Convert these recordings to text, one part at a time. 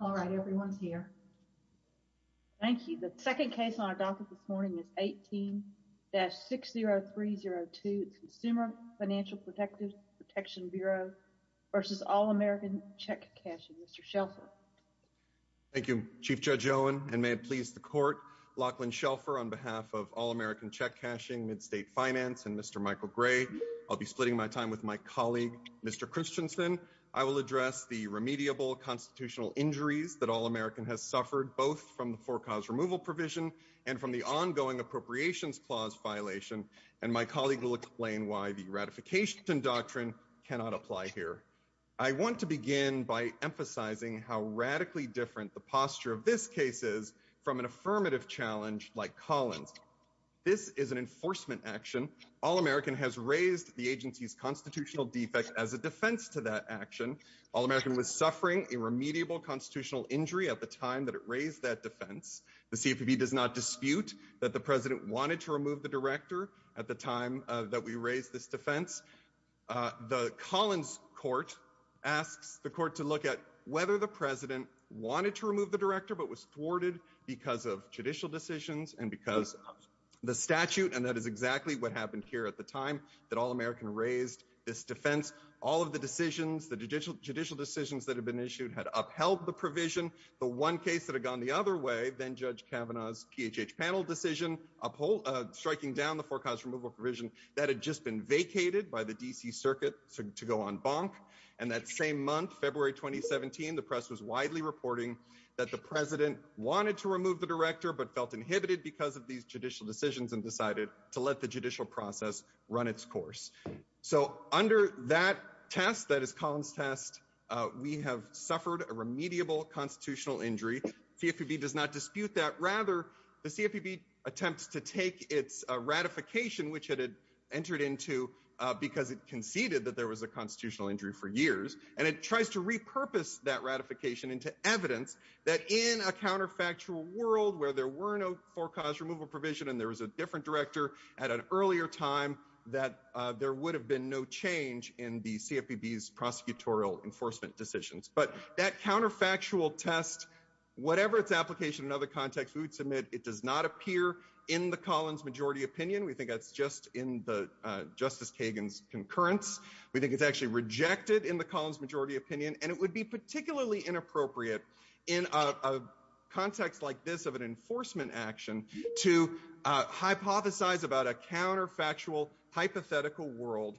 All right, everyone's here. Thank you. The second case on our docket this morning is 18-60302. It's Consumer Financial Protection Bureau v. All American Check Cashing. Mr. Shelfer. Thank you, Chief Judge Owen, and may it please the Court, Lachlan Shelfer, on behalf of All American Check Cashing, Midstate Finance, and Mr. Michael Gray, I'll be splitting my time with my colleague, Mr. Christensen. I will address the remediable constitutional injuries that All American has suffered, both from the for-cause removal provision and from the ongoing appropriations clause violation, and my colleague will explain why the ratification doctrine cannot apply here. I want to begin by emphasizing how radically different the posture of this case is from an affirmative challenge like Collins. This is an enforcement action. All American has raised the agency's constitutional defect as a defense to that action. All American was suffering a remediable constitutional injury at the time that it raised that defense. The CFPB does not dispute that the president wanted to remove the director at the time that we raised this defense. The Collins court asks the court to look at whether the president wanted to remove the director but was thwarted because of judicial decisions and because of the statute, and that is exactly what happened here at the time that All American raised this defense. All of the decisions, the judicial decisions that had been issued had upheld the provision. The one case that had gone the other way, then Judge Kavanaugh's PHH panel decision, striking down the for-cause removal provision, that had just been vacated by the D.C. Circuit to go on bonk, and that same month, February 2017, the press was widely reporting that the president wanted to remove the director but felt inhibited because of these judicial decisions and decided to let the judicial process run its course. So under that test, that is Collins' test, we have suffered a remediable constitutional injury. CFPB does not dispute that. Rather, the CFPB attempts to take its ratification, which it had entered into because it conceded that there was a constitutional injury for years, and it tries to repurpose that ratification into evidence that in a counterfactual world where there were no for-cause removal provision and there was a different director at an earlier time that there would have been no change in the CFPB's prosecutorial enforcement decisions. But that counterfactual test, whatever its application in other contexts, we would submit it does not appear in the Collins majority opinion. We think that's just in Justice Kagan's concurrence. We think it's actually rejected in the Collins majority opinion, and it would be particularly inappropriate in a context like this of an enforcement action to hypothesize about a counterfactual hypothetical world.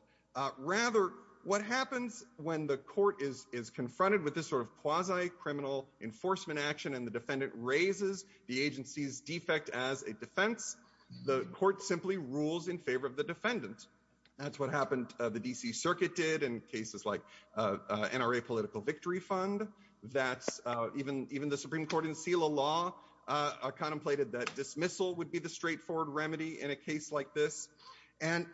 Rather, what happens when the court is confronted with this sort of quasi-criminal enforcement action and the defendant raises the agency's defect as a defense, the court simply rules in favor of the defendant. That's what happened the D.C. Circuit did in cases like NRA Political Victory Fund. That's even the Supreme Court in SELA law contemplated that dismissal would be the straightforward remedy in a case like this. And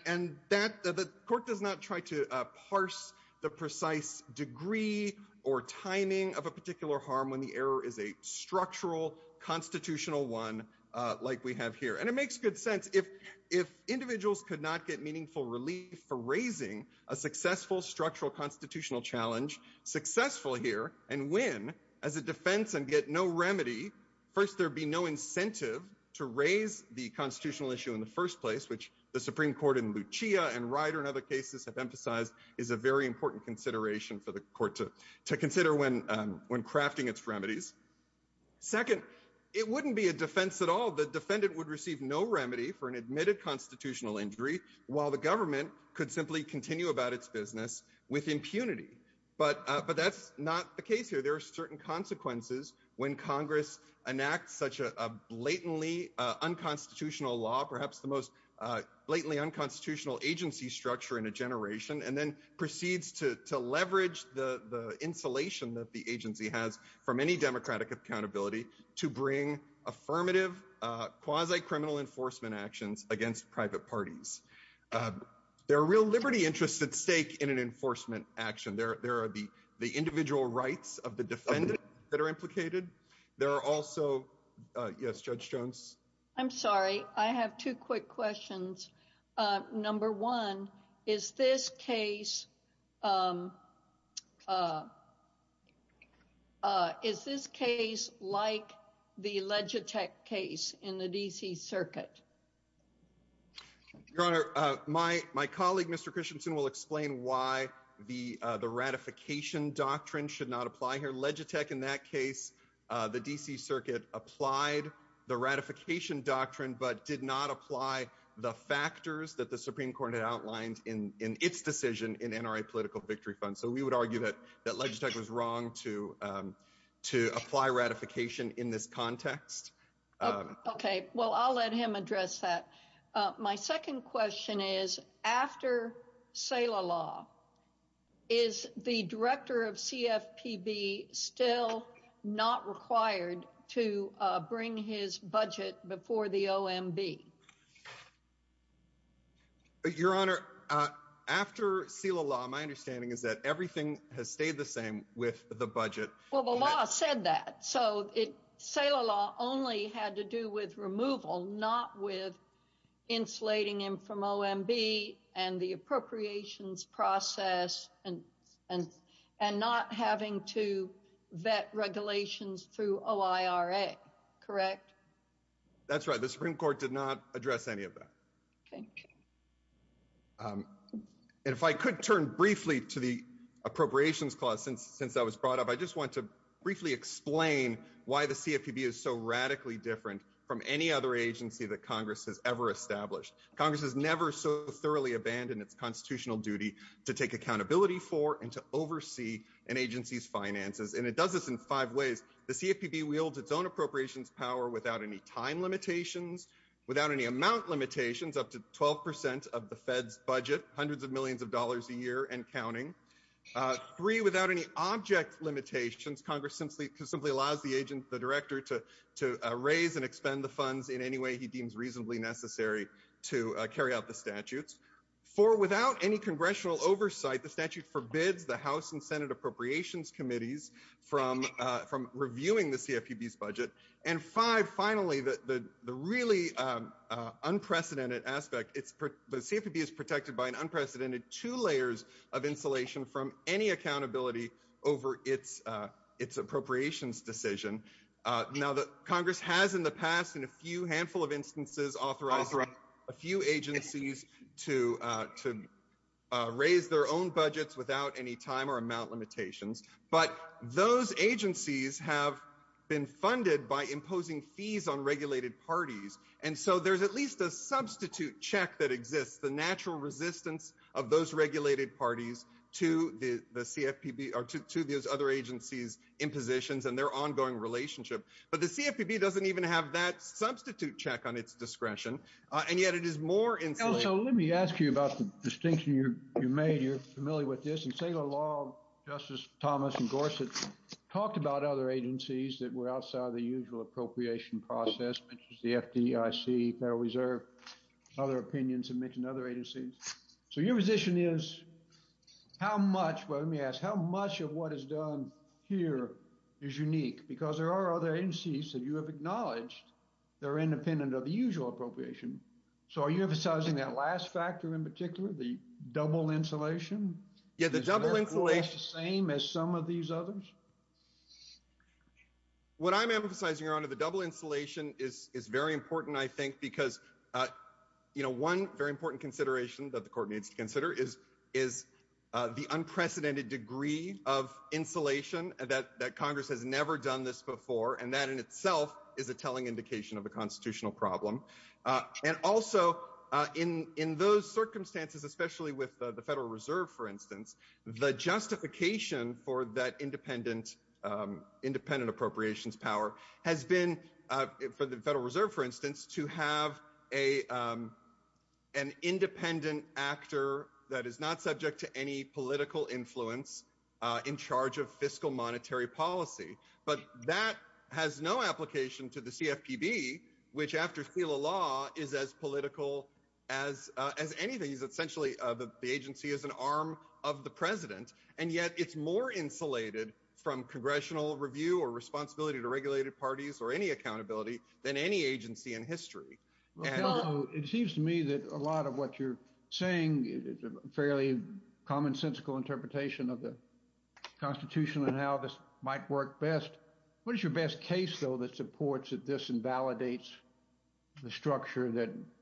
that the court does not try to parse the precise degree or timing of a particular harm when the error is a structural constitutional one like we have here. And it makes good sense. If individuals could not get meaningful relief for raising a successful structural constitutional challenge successful here and win as a defense and get no remedy, first, there'd be no incentive to raise the constitutional issue in the first place, which the Supreme Court in Lucia and Ryder and other cases have emphasized is a very important consideration for the court to consider when crafting its remedies. Second, it wouldn't be a defense at all. The defendant would receive no remedy for an admitted constitutional injury while the government could simply continue about its business with impunity. But that's not the case here. There are certain consequences when Congress enacts such a blatantly unconstitutional law, perhaps the most blatantly unconstitutional agency structure in a generation, and then proceeds to leverage the insulation that the agency has from any democratic accountability to bring affirmative quasi-criminal enforcement actions against private parties. There are real liberty interests at stake in an enforcement action. There are the individual rights of the defendant that are implicated. There are also, yes, Judge Jones. I'm sorry. I have two quick questions. Number one, is this case like the Legitech case in the D.C. Circuit? Your Honor, my colleague, Mr. Christensen, will explain why the ratification doctrine should not apply here. Legitech in that case, the D.C. Circuit applied the ratification doctrine, but did not apply the factors that the Supreme Court had outlined in its decision in NRA Political Victory Fund. So we would argue that that Legitech was wrong to apply ratification in this context. Okay, well, I'll let him address that. My second question is, after Selah Law, is the director of CFPB still not required to bring his budget before the OMB? Your Honor, after Selah Law, my understanding is that everything has stayed the same with the budget. Well, the law said that. So Selah Law only had to do with removal, not with insulating him from OMB and the appropriations process and not having to vet regulations through OIRA, correct? That's right. The Supreme Court did not address any of that. Thank you. And if I could turn briefly to the appropriations clause since that was brought up, I just want to briefly explain why the CFPB is so radically different from any other agency that Congress has ever established. Congress has never so thoroughly abandoned its constitutional duty to take accountability for and to oversee an agency's finances. And it does this in five ways. The CFPB wields its own appropriations power without any time limitations, without any amount limitations, up to 12 percent of the Fed's budget, hundreds of millions of dollars a year and counting. Three, without any object limitations, Congress simply allows the director to raise and expend the funds in any way he deems reasonably necessary to carry out the statutes. Four, without any congressional oversight, the statute forbids the House and Senate appropriations committees from reviewing the CFPB's budget. And five, finally, the really unprecedented aspect, the CFPB is protected by an unprecedented two layers of insulation from any accountability over its appropriations decision. Now, Congress has in the past in a few handful of instances authorized a few agencies to raise their own budgets without any time or amount limitations. But those agencies have been funded by imposing fees on regulated parties. And so there's at least a substitute check that exists, the natural resistance of those regulated parties to the CFPB or to those other agencies' impositions and their ongoing relationship. But the CFPB doesn't even have that substitute check on its discretion. And yet it is more insulating. So let me ask you about the distinction you made. You're familiar with this. In state law, Justice Thomas and Gorsuch talked about other agencies that were outside the usual appropriation process, which is the FDIC, Federal Reserve, other opinions and other agencies. So your position is, how much, let me ask, how much of what is done here is unique? Because there are other agencies that you have acknowledged that are independent of the usual appropriation. So are you emphasizing that last factor in particular, the double insulation? Is that the same as some of these others? What I'm emphasizing, Your Honor, the double insulation is very important, I think, because one very important consideration that the Court needs to consider is the unprecedented degree of insulation, that Congress has never done this before, and that in itself is a telling indication of a constitutional problem. And also, in those circumstances, especially with the Federal Reserve, for instance, the justification for that independent appropriations power has been, for the Federal Reserve, for instance, to have an independent actor that is not subject to any in charge of fiscal monetary policy. But that has no application to the CFPB, which, after seal of law, is as political as anything. Essentially, the agency is an arm of the president. And yet, it's more insulated from congressional review or responsibility to regulated parties or any accountability than any agency in history. It seems to me that a lot of what you're saying is a fairly commonsensical interpretation of the Constitution and how this might work best. What is your best case, though, that supports that this invalidates the structure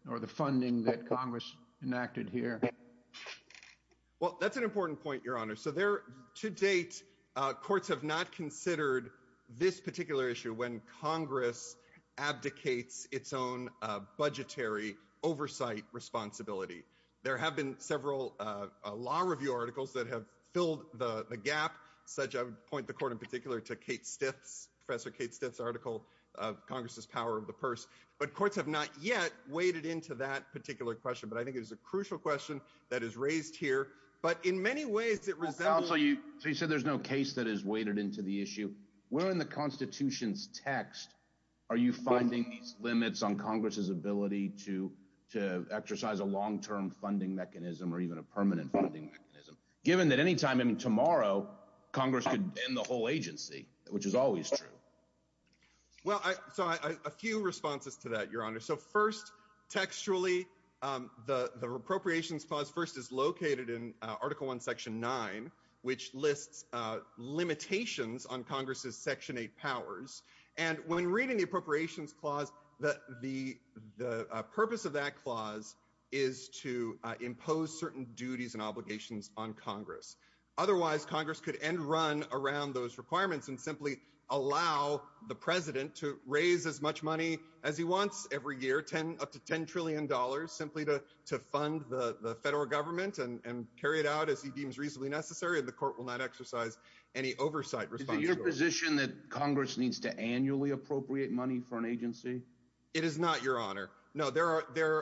or the funding that Congress enacted here? Well, that's an important point, Your Honor. So there, to date, courts have not considered this particular issue when Congress abdicates its own budgetary oversight responsibility. There have been several law review articles that have filled the gap, such, I would point the Court in particular to Kate Stiff's, Professor Kate Stiff's article, Congress's Power of the Purse. But courts have not yet waded into that particular question. But I think it is a crucial question that is raised here. But in many ways, it resembles- So you said there's no case that is waded into the issue. Where in the Constitution's text are you finding these limits on Congress's to exercise a long-term funding mechanism or even a permanent funding mechanism, given that any time tomorrow, Congress could end the whole agency, which is always true? Well, so a few responses to that, Your Honor. So first, textually, the Appropriations Clause first is located in Article I, Section 9, which lists limitations on Congress's Section 8 powers. And when reading the Appropriations Clause, the purpose of that clause is to impose certain duties and obligations on Congress. Otherwise, Congress could end run around those requirements and simply allow the President to raise as much money as he wants every year, up to $10 trillion, simply to fund the federal government and carry it out as he deems reasonably necessary. And the appropriate money for an agency? It is not, Your Honor. No,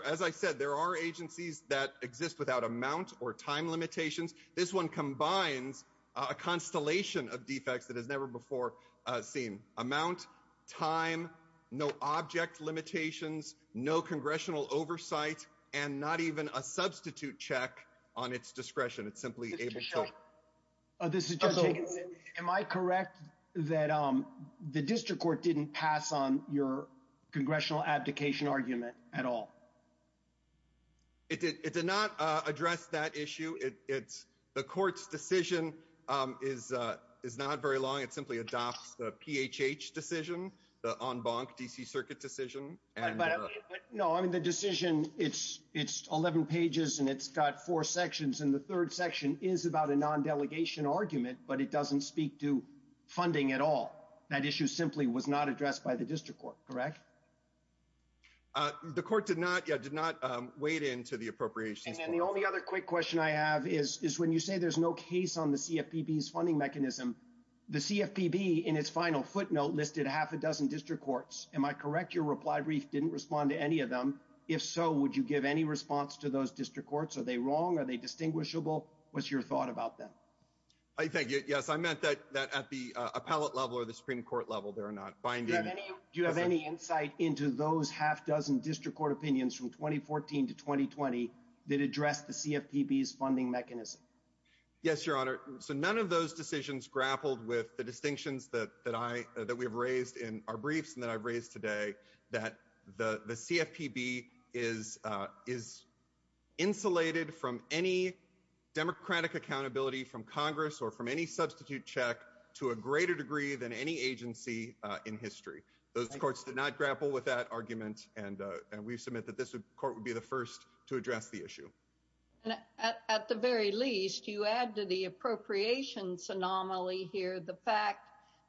as I said, there are agencies that exist without amount or time limitations. This one combines a constellation of defects that has never before seen. Amount, time, no object limitations, no congressional oversight, and not even a substitute check on its discretion. It's simply able to- Judge Jenkins, am I correct that the district court didn't pass on your congressional abdication argument at all? It did not address that issue. The court's decision is not very long. It simply adopts the PHH decision, the en banc DC Circuit decision. No, I mean, the decision, it's 11 pages and it's got four sections. And the third section is about a non-delegation argument, but it doesn't speak to funding at all. That issue simply was not addressed by the district court, correct? The court did not, yeah, did not wade into the appropriations. And then the only other quick question I have is, is when you say there's no case on the CFPB's funding mechanism, the CFPB in its final footnote listed half a dozen district courts. Am I correct? Your reply brief didn't respond to any of them. If so, would you give any response to those district courts? Are they wrong? Are they distinguishable? What's your thought about them? I think, yes, I meant that at the appellate level or the Supreme Court level, they're not binding. Do you have any insight into those half dozen district court opinions from 2014 to 2020 that addressed the CFPB's funding mechanism? Yes, Your Honor. So none of those decisions grappled with the distinctions that we've raised in our briefs that I've raised today that the CFPB is insulated from any democratic accountability from Congress or from any substitute check to a greater degree than any agency in history. Those courts did not grapple with that argument. And we submit that this court would be the first to address the issue. At the very least, you add to the appropriations anomaly here, the fact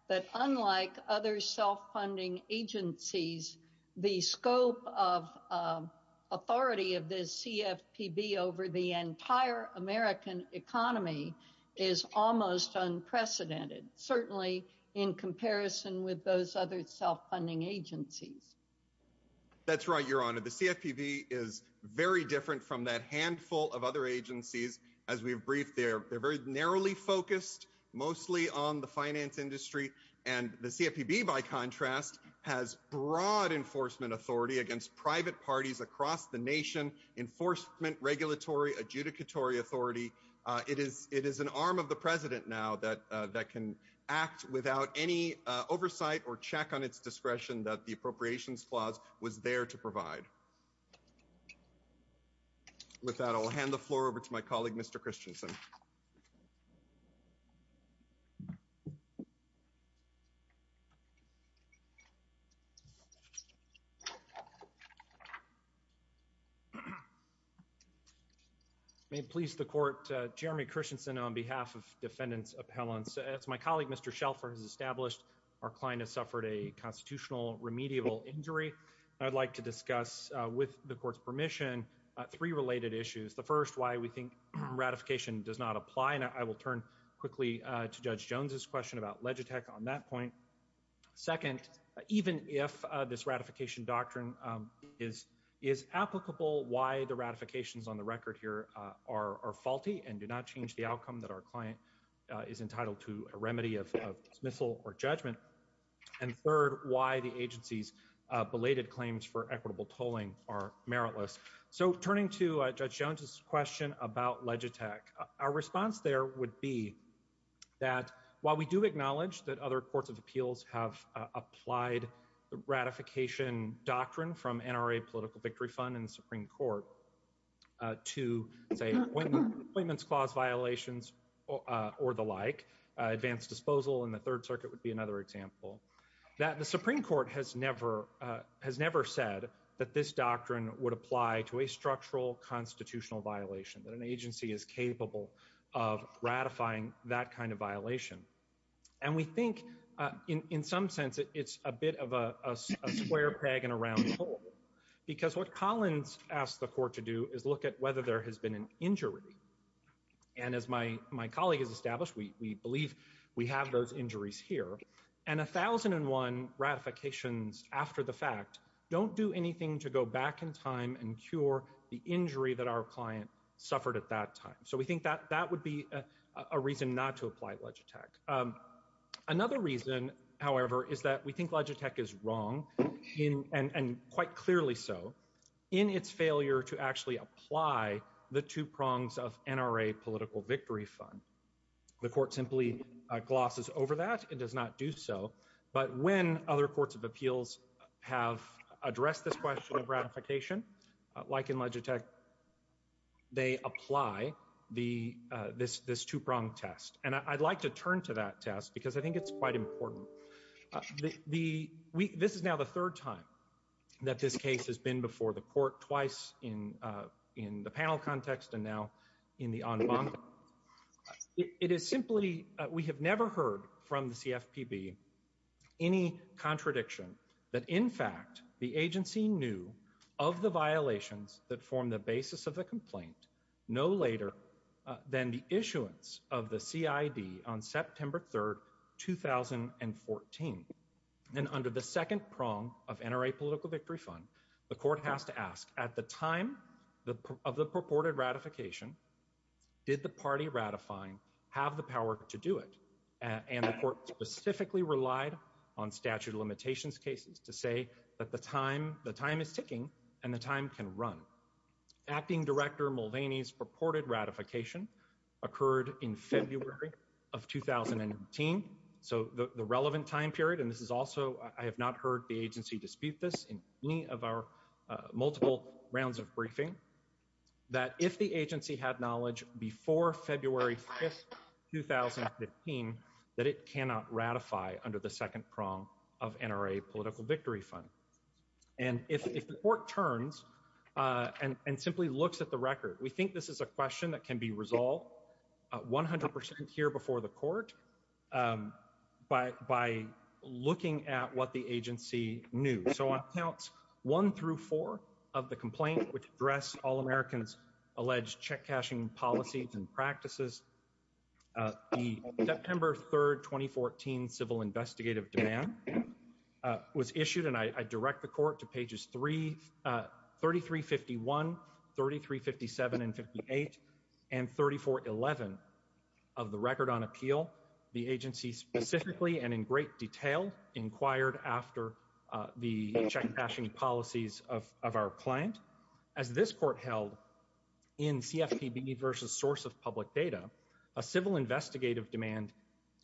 that unlike other self-funding agencies, the scope of authority of the CFPB over the entire American economy is almost unprecedented, certainly in comparison with those other self-funding agencies. That's right, Your Honor. The CFPB is very different from that handful of other agencies. As we've briefed, they're very narrowly focused, mostly on the finance industry. And the CFPB, by contrast, has broad enforcement authority against private parties across the nation, enforcement, regulatory, adjudicatory authority. It is an arm of the president now that can act without any oversight or check on its discretion that the appropriations clause was there to provide. With that, I'll hand the floor over to my colleague, Mr. Christensen. May it please the court, Jeremy Christensen on behalf of Defendants Appellants. As my colleague, Mr. Shelford, has established, our client has suffered a constitutional remediable injury. I'd like to discuss, with the court's permission, three related issues. The first, why we think ratification does not apply, and I will turn quickly to Judge Jones's question about Legitech on that point. Second, even if this ratification doctrine is applicable, why the ratifications on the record here are faulty and do not change the outcome that our client is entitled to a for equitable tolling are meritless. So turning to Judge Jones's question about Legitech, our response there would be that while we do acknowledge that other courts of appeals have applied the ratification doctrine from NRA Political Victory Fund and the Supreme Court to, say, appointments clause violations or the like, advanced disposal in the Third Circuit would be another example, that the Supreme Court has never said that this doctrine would apply to a structural constitutional violation, that an agency is capable of ratifying that kind of violation. And we think, in some sense, it's a bit of a square peg in a round hole, because what Collins asked the court to do is look at whether there has been an injury. And as my colleague has and a thousand and one ratifications after the fact don't do anything to go back in time and cure the injury that our client suffered at that time. So we think that that would be a reason not to apply Legitech. Another reason, however, is that we think Legitech is wrong, and quite clearly so, in its failure to actually apply the two prongs of NRA Political Victory Fund. The court simply glosses over that. It does not do so. But when other courts of appeals have addressed this question of ratification, like in Legitech, they apply this two-pronged test. And I'd like to turn to that test, because I think it's quite important. This is now the third time that this case has been before the court, twice in the panel context and now in the en banc. It is simply, we have never heard from the CFPB any contradiction that, in fact, the agency knew of the violations that form the basis of the complaint no later than the issuance of the CID on September 3, 2014. And under the second prong of NRA Political Victory Fund, the court has to ask, at the time of the purported ratification, did the party ratifying have the power to do it? And the court specifically relied on statute of limitations cases to say that the time is ticking and the time can run. Acting Director Mulvaney's purported ratification occurred in February of 2018. So the relevant time period, and this is also, I have not heard the agency dispute this in any of our multiple rounds of briefing, that if the agency had knowledge before February 5, 2015, that it cannot ratify under the second prong of NRA Political Victory Fund. And if the court turns and simply looks at the record, we think this is a question that can be resolved 100 percent here before the court by looking at what the agency knew. So on accounts 1 through 4 of the complaint, which address all Americans' alleged check cashing policies and practices, the September 3, 2014, civil investigative demand was issued, and I direct the court to pages 3351, 3357, and 58, and 3411 of the record on appeal. The agency specifically and in great detail inquired after the check cashing policies of our client. As this court held in CFPB versus source of public data, a civil investigative demand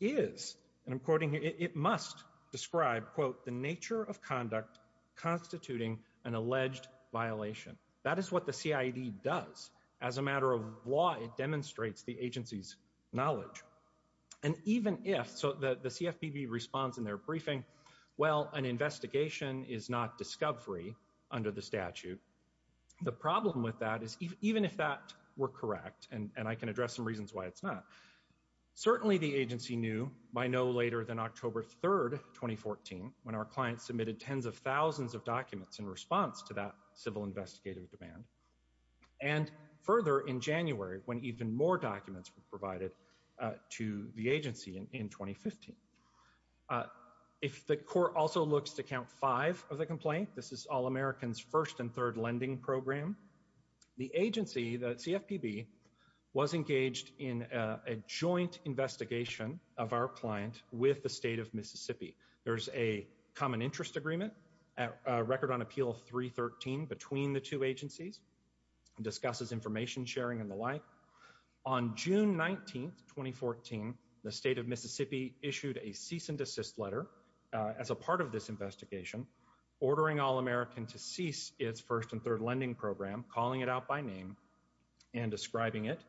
is, and I'm quoting here, it must describe, quote, the nature of conduct constituting an alleged violation. That is what the CID does. As a matter of law, it demonstrates the agency's knowledge. And even if, so the CFPB responds in their briefing, well, an investigation is not discovery under the statute. The problem with that is even if that were correct, and I can address some reasons why it's not, certainly the agency knew by no later than October 3, 2014, when our client submitted tens of thousands of documents in response to that civil investigative demand, and further in January when even more documents were provided to the agency in 2015. If the court also looks to count five of the complaint, this is all Americans' first and third lending program, the agency, the joint investigation of our client with the state of Mississippi. There's a common interest agreement, a record on appeal 313 between the two agencies, discusses information sharing and the like. On June 19, 2014, the state of Mississippi issued a cease and desist letter as a part of this investigation ordering All-American to cease its first and third lending program, calling it out by name and describing it,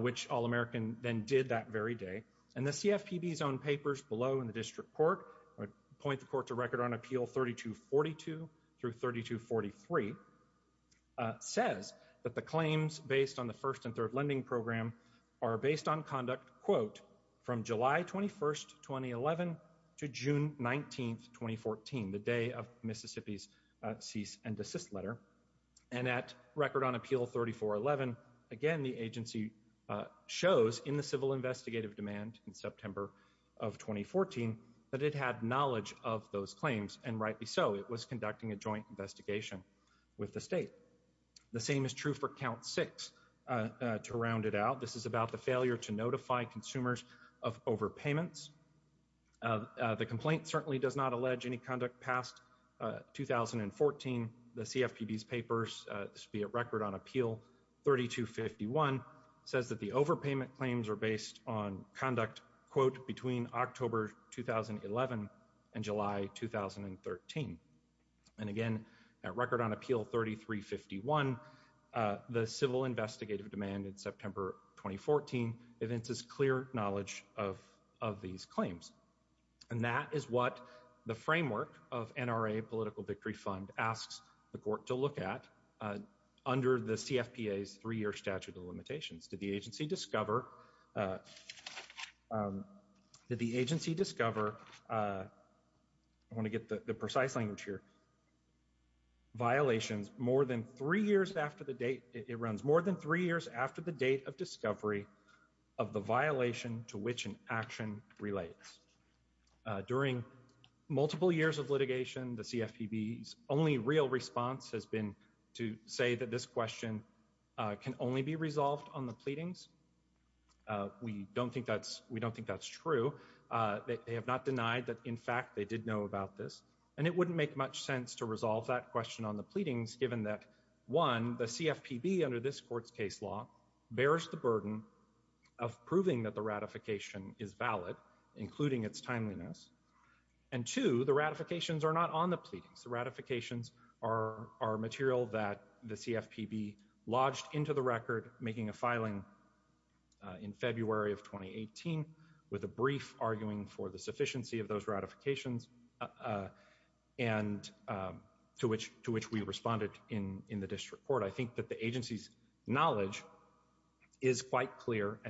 which All-American then did that very day. And the CFPB's own papers below in the district court point the court to record on appeal 3242 through 3243, says that the claims based on the first and third lending program are based on conduct, quote, from July 21, 2011 to June 19, 2014, the day of Mississippi's cease and desist letter. And at record on appeal 3411, again, the agency shows in the civil investigative demand in September of 2014 that it had knowledge of those claims, and rightly so. It was conducting a joint investigation with the state. The same is true for count six. To round it out, this is about the failure to notify consumers of overpayments. The complaint certainly does not allege any conduct past 2014. The CFPB's papers, this would be at record on appeal 3251, says that the overpayment claims are based on conduct, quote, between October 2011 and July 2013. And again, at record on appeal 3351, the civil investigative demand in September 2014 evinces clear knowledge of these claims. And that is what the framework of NRA Political Victory Fund asks the court to look at under the CFPA's three-year statute of limitations. Did the agency discover did the agency discover, I want to get the precise language here, violations more than three years after the date, it runs more than three years after the date of During multiple years of litigation, the CFPB's only real response has been to say that this question can only be resolved on the pleadings. We don't think that's true. They have not denied that, in fact, they did know about this. And it wouldn't make much sense to resolve that question on the pleadings, given that, one, the CFPB under this court's case law bears the burden of proving that the ratification is valid, including its timeliness. And two, the ratifications are not on the pleadings. The ratifications are material that the CFPB lodged into the record, making a filing in February of 2018, with a brief arguing for the sufficiency of those ratifications, and to which we responded in the district court. I think that the agency's and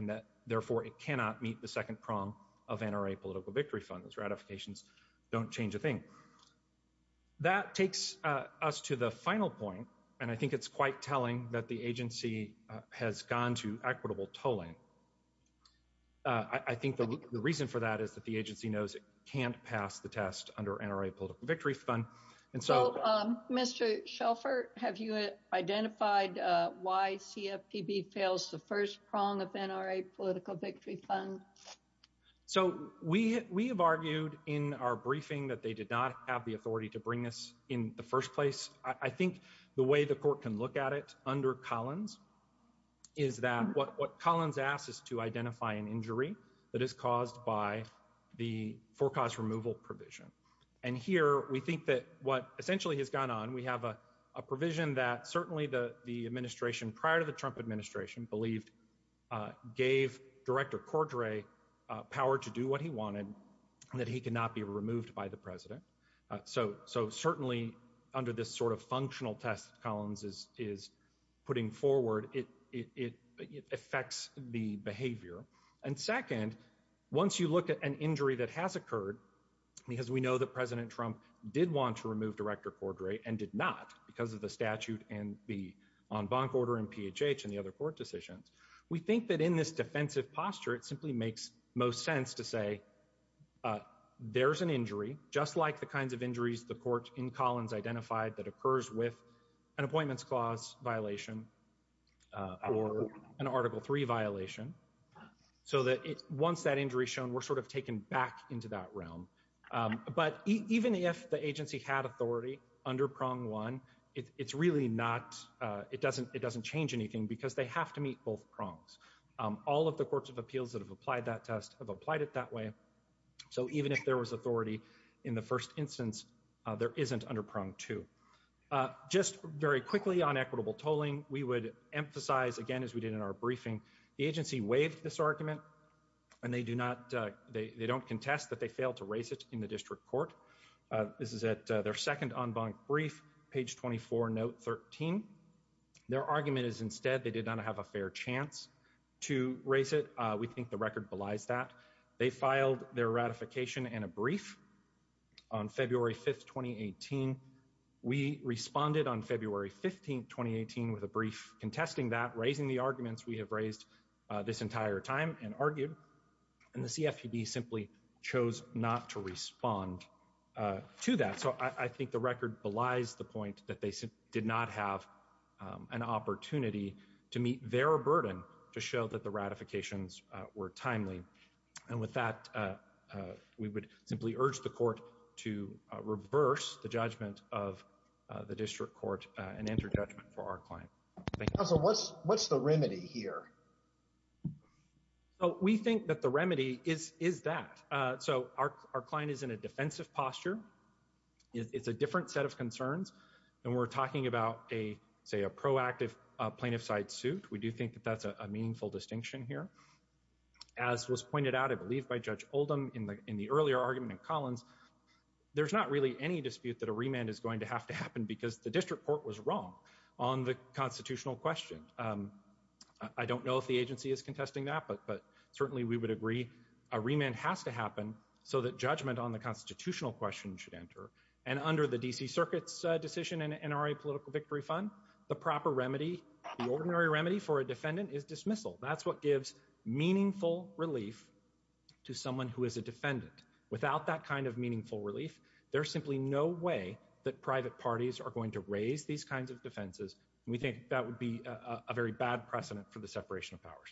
that, therefore, it cannot meet the second prong of NRA Political Victory Fund. Those ratifications don't change a thing. That takes us to the final point, and I think it's quite telling that the agency has gone to equitable tolling. I think the reason for that is that the agency knows it can't pass the test under NRA Political Victory Fund, and so Mr. Shelford, have you identified why CFPB fails the first prong of NRA Political Victory Fund? So we have argued in our briefing that they did not have the authority to bring this in the first place. I think the way the court can look at it under Collins is that what Collins asks is to identify an injury that is caused by the forecast removal provision. And here, we think that what essentially has gone on, we have a provision that certainly the administration prior to the Trump administration believed gave Director Cordray power to do what he wanted, that he could not be removed by the president. So certainly, under this sort of functional test Collins is putting forward, it affects the behavior. And second, once you look at an individual who did want to remove Director Cordray and did not because of the statute and the en banc order and PHH and the other court decisions, we think that in this defensive posture, it simply makes most sense to say there's an injury, just like the kinds of injuries the court in Collins identified that occurs with an Appointments Clause violation or an Article III violation, so that once that injury is shown, we're sort of taken back into that realm. But even if the agency had authority under Prong 1, it's really not, it doesn't change anything because they have to meet both prongs. All of the courts of appeals that have applied that test have applied it that way. So even if there was authority in the first instance, there isn't under Prong 2. Just very quickly on equitable tolling, we would emphasize again, as we did in our briefing, the agency waived this argument, and they do not, they don't contest that they failed to raise it in the district court. This is at their second en banc brief, page 24, note 13. Their argument is instead they did not have a fair chance to raise it. We think the record belies that. They filed their ratification in a brief on February 5, 2018. We responded on this entire time and argued, and the CFPB simply chose not to respond to that. So I think the record belies the point that they did not have an opportunity to meet their burden to show that the ratifications were timely. And with that, we would simply urge the court to reverse the judgment of the district court and enter judgment for our client. What's the remedy here? So we think that the remedy is that. So our client is in a defensive posture. It's a different set of concerns. And we're talking about a, say, a proactive plaintiff side suit. We do think that that's a meaningful distinction here. As was pointed out, I believe, by Judge Oldham in the earlier argument in Collins, there's not really any dispute that a remand is going to have to happen because the district court was wrong on the constitutional question. I don't know if the agency is contesting that, but certainly we would agree a remand has to happen so that judgment on the constitutional question should enter. And under the D.C. Circuit's decision and NRA Political Victory Fund, the proper remedy, the ordinary remedy for a defendant is dismissal. That's what gives meaningful relief to someone who is a defendant. Without that kind meaningful relief, there's simply no way that private parties are going to raise these kinds of defenses. And we think that would be a very bad precedent for the separation of powers.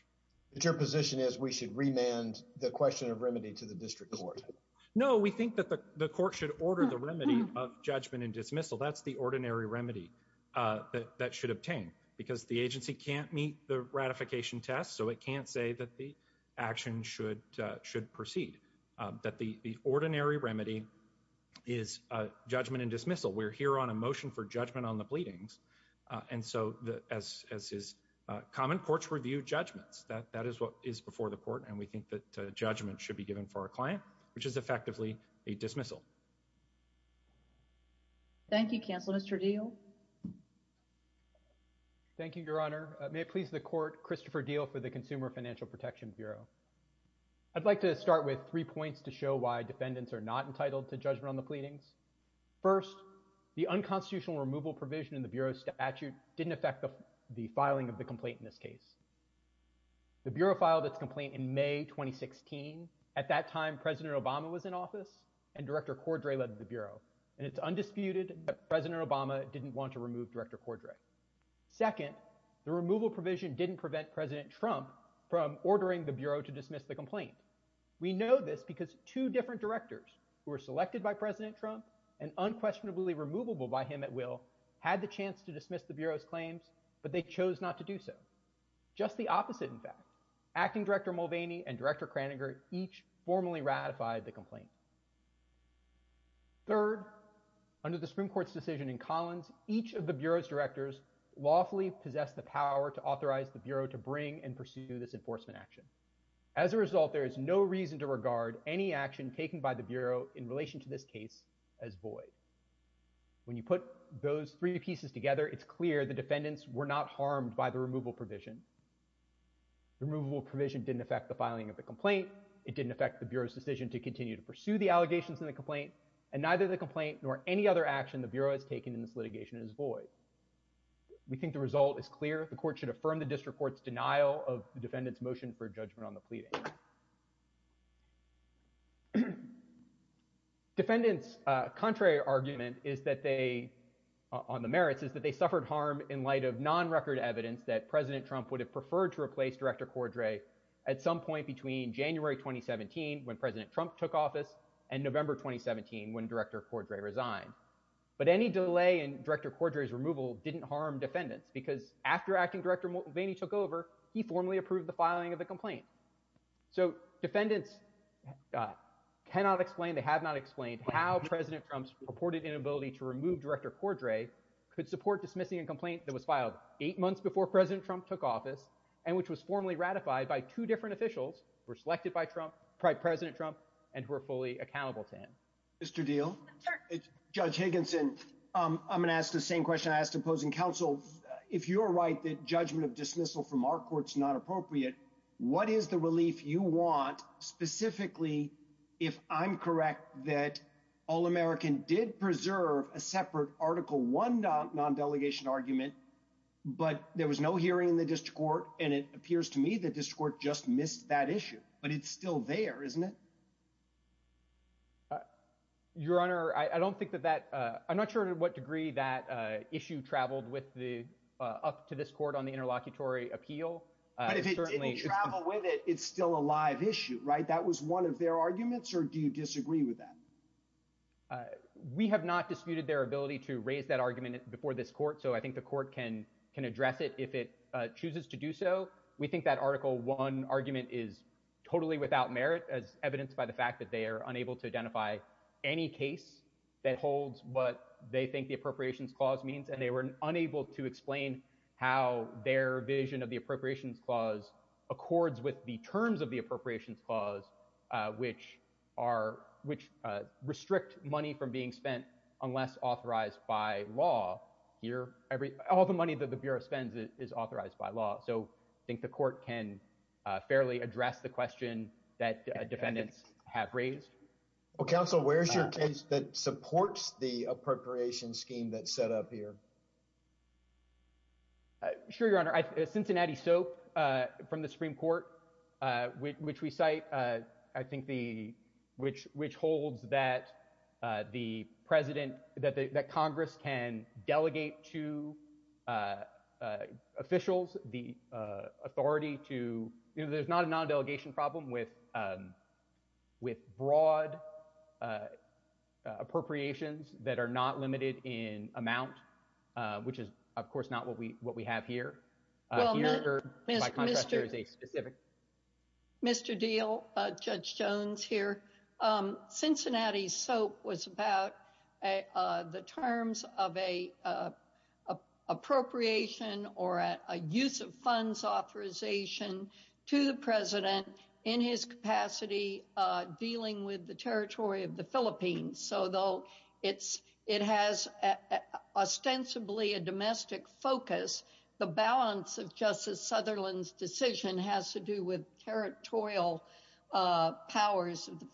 But your position is we should remand the question of remedy to the district court? No, we think that the court should order the remedy of judgment and dismissal. That's the ordinary remedy that should obtain because the agency can't meet the ratification test. So it can't say that the action should proceed, that the ordinary remedy is judgment and dismissal. We're here on a motion for judgment on the pleadings. And so as common courts review judgments, that is what is before the court. And we think that judgment should be given for our client, which is effectively a dismissal. Thank you, counsel. Mr. Deal. Thank you, Your Honor. May it please the court, Christopher Deal for the Consumer Financial Protection Bureau. I'd like to start with three points to show why defendants are not entitled to judgment on the pleadings. First, the unconstitutional removal provision in the Bureau statute didn't affect the filing of the complaint in this case. The Bureau filed its complaint in May 2016. At that time, President Obama was in office and Director Cordray led the to remove Director Cordray. Second, the removal provision didn't prevent President Trump from ordering the Bureau to dismiss the complaint. We know this because two different directors who were selected by President Trump and unquestionably removable by him at will had the chance to dismiss the Bureau's claims, but they chose not to do so. Just the opposite, in fact. Acting Director Mulvaney and Director Kraninger each formally ratified the complaint. Third, under the Supreme Court's decision in Collins, each of the Bureau's directors lawfully possessed the power to authorize the Bureau to bring and pursue this enforcement action. As a result, there is no reason to regard any action taken by the Bureau in relation to this case as void. When you put those three pieces together, it's clear the defendants were not harmed by the removal provision. The removal provision didn't affect the filing of the allegations in the complaint, and neither the complaint nor any other action the Bureau has taken in this litigation is void. We think the result is clear. The Court should affirm the District Court's denial of the defendants' motion for judgment on the pleading. Defendants' contrary argument on the merits is that they suffered harm in light of non-record evidence that President Trump would have preferred to replace Director Cordray at some point between January 2017, when President Trump took office, and November 2017, when Director Cordray resigned. But any delay in Director Cordray's removal didn't harm defendants, because after Acting Director Mulvaney took over, he formally approved the filing of the complaint. So defendants cannot explain, they have not explained, how President Trump's purported inability to remove Director Cordray could support dismissing a complaint that was filed eight months before President Trump took office, and which was formally ratified by two different officials, who were selected by Trump, President Trump, and who are fully accountable to him. Mr. Diehl, Judge Higginson, I'm going to ask the same question I asked opposing counsel. If you're right that judgment of dismissal from our court's not appropriate, what is the relief you want, specifically, if I'm correct that All-American did preserve a separate Article 1 non-delegation argument, but there was no hearing in the district court, and it appears to me the district court just missed that issue, but it's still there, isn't it? Your Honor, I don't think that that, I'm not sure to what degree that issue traveled with the, up to this court on the interlocutory appeal. But if it didn't travel with it, it's still a live issue, right? That was one of their arguments, or do you disagree with that? Uh, we have not disputed their ability to raise that argument before this court, so I think the court can address it if it chooses to do so. We think that Article 1 argument is totally without merit, as evidenced by the fact that they are unable to identify any case that holds what they think the Appropriations Clause means, and they were unable to explain how their vision of the Appropriations Clause accords with the terms of the Appropriations Clause, which are, which restrict money from being spent unless authorized by law here. All the money that the Bureau spends is authorized by law, so I think the court can fairly address the question that defendants have raised. Well, counsel, where's your case that supports the appropriations scheme that's set up here? Uh, sure, Your Honor. Cincinnati Soap, uh, from the Supreme Court, uh, which, which we cite, uh, I think the, which, which holds that, uh, the president, that the, that Congress can delegate to, uh, uh, officials the, uh, authority to, you know, there's not a non-delegation problem with, um, with broad, uh, uh, appropriations that are not limited in amount, uh, which is, of course, not what we, what we have here. Uh, here, by contrast, there is a specific... Mr. Deal, uh, Judge Jones here. Um, Cincinnati Soap was about, uh, uh, the terms of a, uh, appropriation or a, a use of funds authorization to the president in his capacity, uh, dealing with the territory of the Philippines. So though it's, it has ostensibly a domestic focus, the balance of Justice Sutherland's decision has to do with territorial, uh, powers of the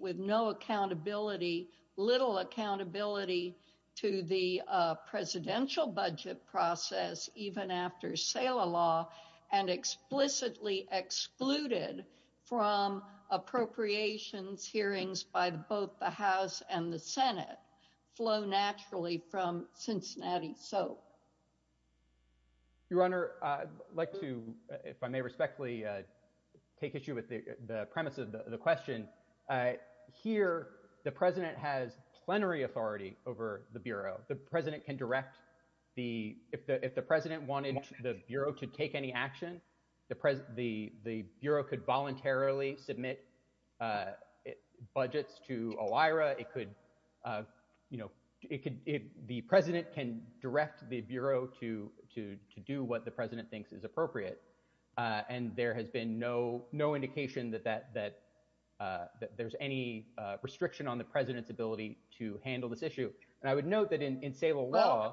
with no accountability, little accountability to the, uh, presidential budget process, even after sale of law and explicitly excluded from appropriations hearings by both the House and the Senate flow naturally from Cincinnati Soap. Your Honor, I'd like to, if I may respectfully, uh, take issue with the premise of the question, uh, here, the president has plenary authority over the Bureau. The president can direct the, if the, if the president wanted the Bureau to take any action, the president, the, the Bureau could voluntarily submit, uh, budgets to OIRA. It could, uh, you know, it could, it, the president can direct the Bureau to, to, to do what the president thinks is appropriate. Uh, and there has been no, no indication that, that, that, uh, that there's any, uh, restriction on the president's ability to handle this issue. And I would note that in, in sale of law,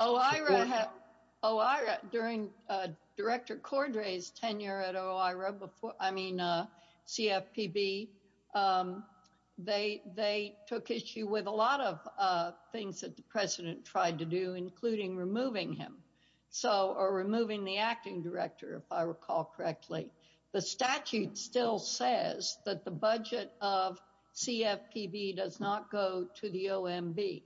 OIRA during, uh, director Cordray's tenure at OIRA before, I mean, uh, CFPB, um, they, they took issue with a lot of, uh, things that the president tried to do, including removing him. So, or removing the acting director, if I recall correctly, the statute still says that the budget of CFPB does not go to the OMB.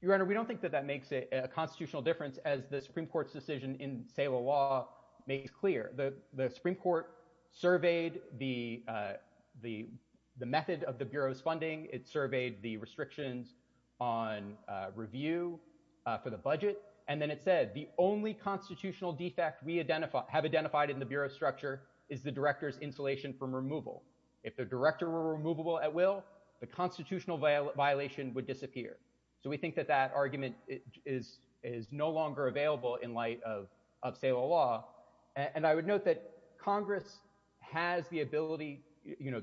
Your Honor, we don't think that that makes a constitutional difference as the Supreme Court's decision in sale of law makes clear. The, the Supreme Court surveyed the, uh, the, the method of the Bureau's funding. It surveyed the restrictions on, uh, review, uh, for the budget. And then it said the only constitutional defect we identify, have identified in the Bureau structure is the director's insulation from removal. If the director were removable at will, the constitutional violation would disappear. So we think that that argument is, is no longer available in light of, of sale of law. And I would note that Congress has the ability, you know,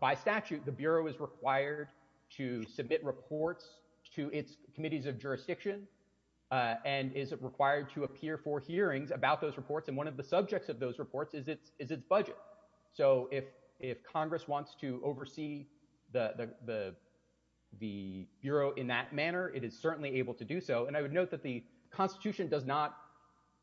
by statute, the Bureau is required to submit reports to its committees of jurisdiction, uh, and is required to appear for hearings about those reports. And one of the subjects of those reports is its, is its budget. So if, if Congress wants to oversee the, the, the, the Bureau in that manner, it is certainly able to do so. And I note that the Constitution does not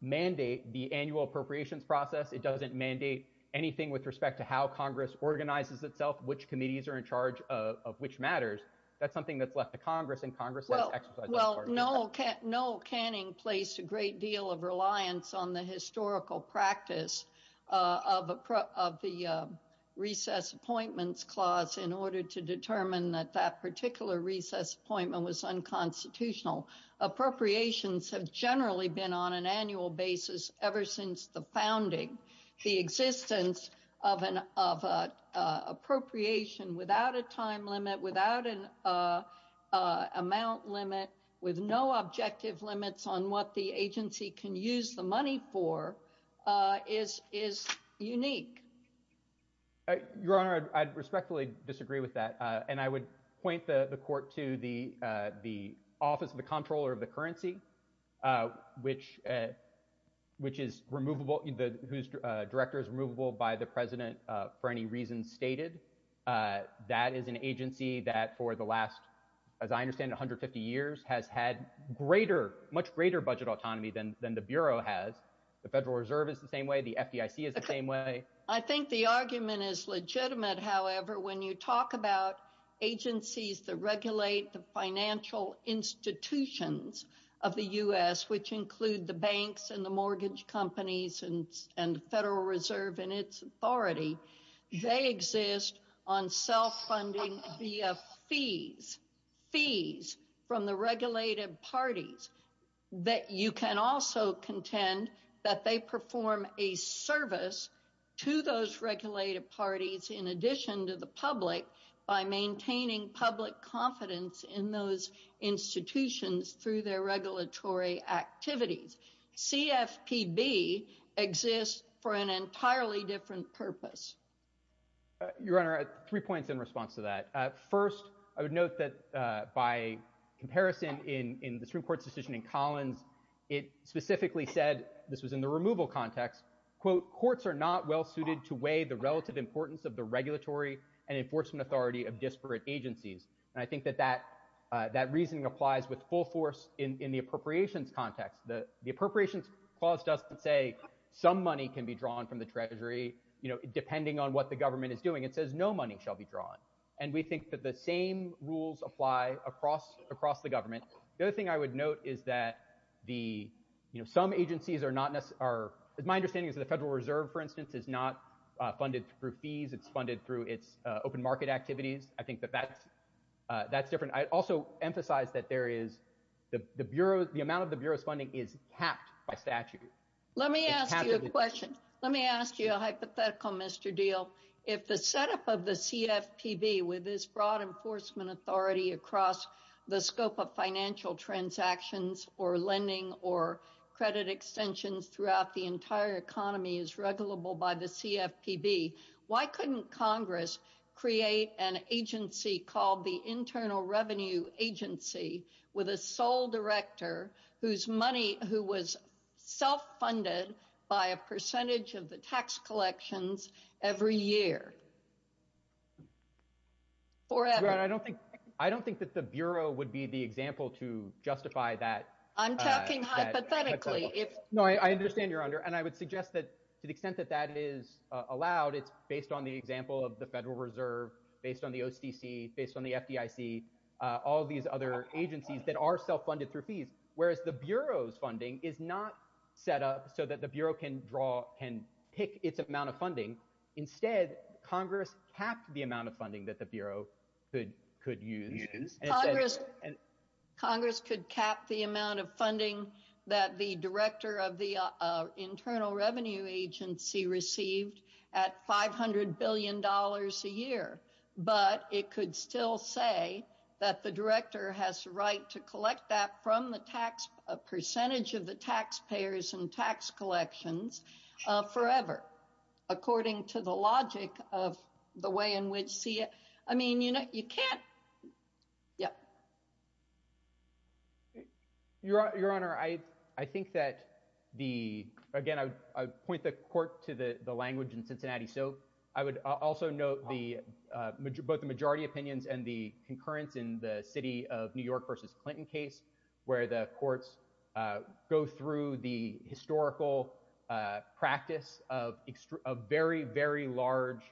mandate the annual appropriations process. It doesn't mandate anything with respect to how Congress organizes itself, which committees are in charge of, of which matters. That's something that's left to Congress and Congress has exercised. Well, no, no canning placed a great deal of reliance on the historical practice, uh, of, of the, uh, recess appointments clause in order to determine that that particular recess appointment was unconstitutional. Appropriations have generally been on an annual basis ever since the founding, the existence of an, of a, uh, appropriation without a time limit, without an, uh, uh, amount limit with no objective limits on what the agency can use the money for, uh, is, is unique. Your Honor, I'd respectfully disagree with that. Uh, and I would point the court to the, uh, the office of the comptroller of the currency, uh, which, uh, which is removable, whose director is removable by the president, uh, for any reason stated, uh, that is an agency that for the last, as I understand it, 150 years has had greater, much greater budget autonomy than, than the Bureau has. The Federal Reserve is the same way. The FDIC is the same way. I think the argument is legitimate, however, when you talk about agencies that regulate the financial institutions of the U.S., which include the banks and the mortgage companies and, and Federal Reserve and its authority, they exist on self-funding via fees, fees from the regulated parties that you can also contend that they perform a service to those regulated parties in addition to the public by maintaining public confidence in those institutions through their regulatory activities. CFPB exists for an entirely different purpose. Your Honor, three points in response to that. Uh, first, I would note that, uh, by comparison in, in the Supreme Court's decision in Collins, it specifically said, this was in the removal context, quote, courts are not well-suited to weigh the relative importance of the regulatory and enforcement authority of disparate agencies. And I think that that, uh, that reasoning applies with full force in, in the appropriations context. The, the appropriations clause doesn't say some money can be drawn from the treasury, you know, depending on what the government is doing. It says no money shall be drawn. And we think that the same rules apply across, across the government. The other thing I would note is that the, you know, some agencies are not necessarily, are, my understanding is that the Federal Reserve, for instance, is not, uh, funded through fees. It's funded through its, uh, open market activities. I think that that's, uh, that's different. I also emphasize that there is the, the Bureau, the amount of the Bureau's funding is capped by statute. Let me ask you a question. Let me ask you a hypothetical, Mr. Deal. If the setup of the CFPB with this broad enforcement authority across the scope of financial transactions or lending or credit extensions throughout the entire economy is regulable by the CFPB, why couldn't Congress create an agency called the Internal Revenue Agency with a sole director whose money, who was self-funded by a percentage of the tax collections every year? Forever. I don't think, I don't think that the Bureau would be the example to justify that. I'm talking hypothetically. No, I understand your honor. And I would suggest that to the extent that that is allowed, it's based on the example of the Federal Reserve, based on the OCC, based on the FDIC, uh, all these other agencies that are self-funded through fees. Whereas the Bureau's funding is not set up so that the Bureau can draw, can pick its amount of funding. Instead, Congress capped the amount of funding that the Bureau could, could use. Congress could cap the amount of funding that the director of the Internal Revenue Agency received at $500 billion a year. But it could still say that the director has the right to collect that tax, a percentage of the taxpayers and tax collections, uh, forever, according to the logic of the way in which CF, I mean, you know, you can't, yeah. Your, your honor, I, I think that the, again, I would, I would point the court to the, the language in Cincinnati. So I would also note the, uh, both the majority opinions and the concurrence in the city of New York versus Clinton case, where the courts, uh, go through the historical, uh, practice of, of very, very large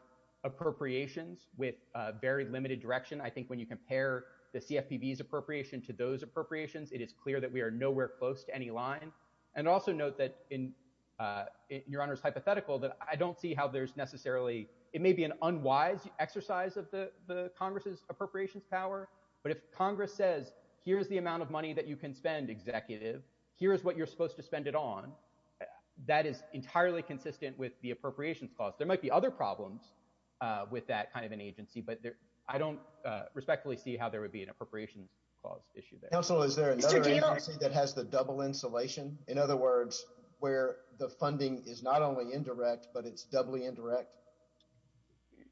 appropriations with, uh, very limited direction. I think when you compare the CFPB's appropriation to those appropriations, it is clear that we are nowhere close to any line. And also note that in, uh, your honor's hypothetical that I don't see how there's necessarily, it may be an unwise exercise of the, the Congress's appropriations power. But if Congress says, here's the amount of money that you can spend executive, here's what you're supposed to spend it on. That is entirely consistent with the appropriations clause. There might be other problems, uh, with that kind of an agency, but there, I don't, uh, respectfully see how there would be an appropriations clause issue there. Is there another agency that has the double insulation? In other words, where the funding is not only indirect, but it's doubly indirect.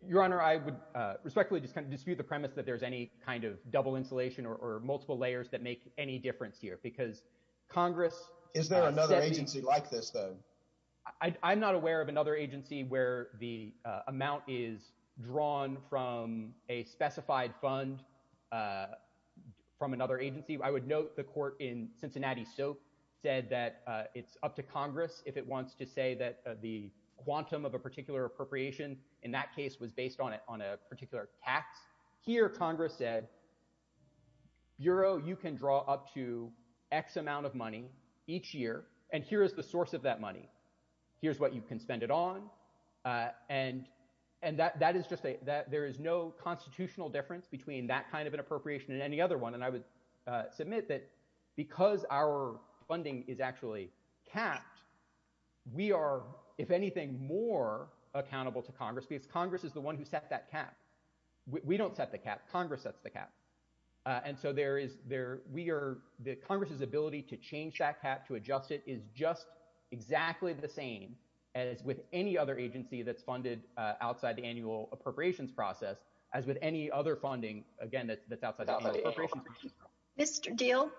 Your honor, I would, uh, respectfully just kind of dispute the premise that there's any kind of double insulation or, or multiple layers that make any difference here because Congress, is there another agency like this though? I, I'm not aware of another agency where the, uh, amount is drawn from a specified fund, uh, from another agency. I would note the court in Cincinnati soap said that, uh, it's up to Congress if it wants to say that the quantum of a particular appropriation in that case was based on it, on a particular tax here, Congress said, Bureau, you can draw up to X amount of money each year, and here is the source of that money. Here's what you can spend it on. Uh, and, and that, that is just a, that there is no constitutional difference between that kind of an appropriation and any other one. And I would, uh, submit that because our funding is actually capped, we are, if anything, more accountable to Congress. That's the cap. Uh, and so there is there, we are, the Congress's ability to change that cap to adjust it is just exactly the same as with any other agency that's funded, uh, outside the annual appropriations process as with any other funding, again, that's, that's outside. Mr. Deal,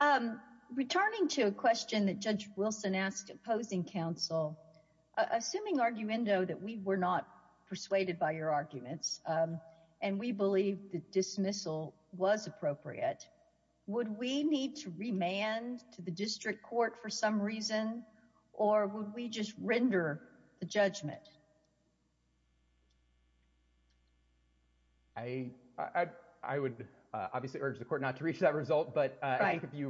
um, returning to a question that Judge Wilson asked opposing counsel, assuming arguendo that we were not persuaded by your arguments, um, and we believe the dismissal was appropriate, would we need to remand to the district court for some reason, or would we just render the judgment? I, I, I would, uh, obviously urge the court not to reach that result, but, uh, I think if you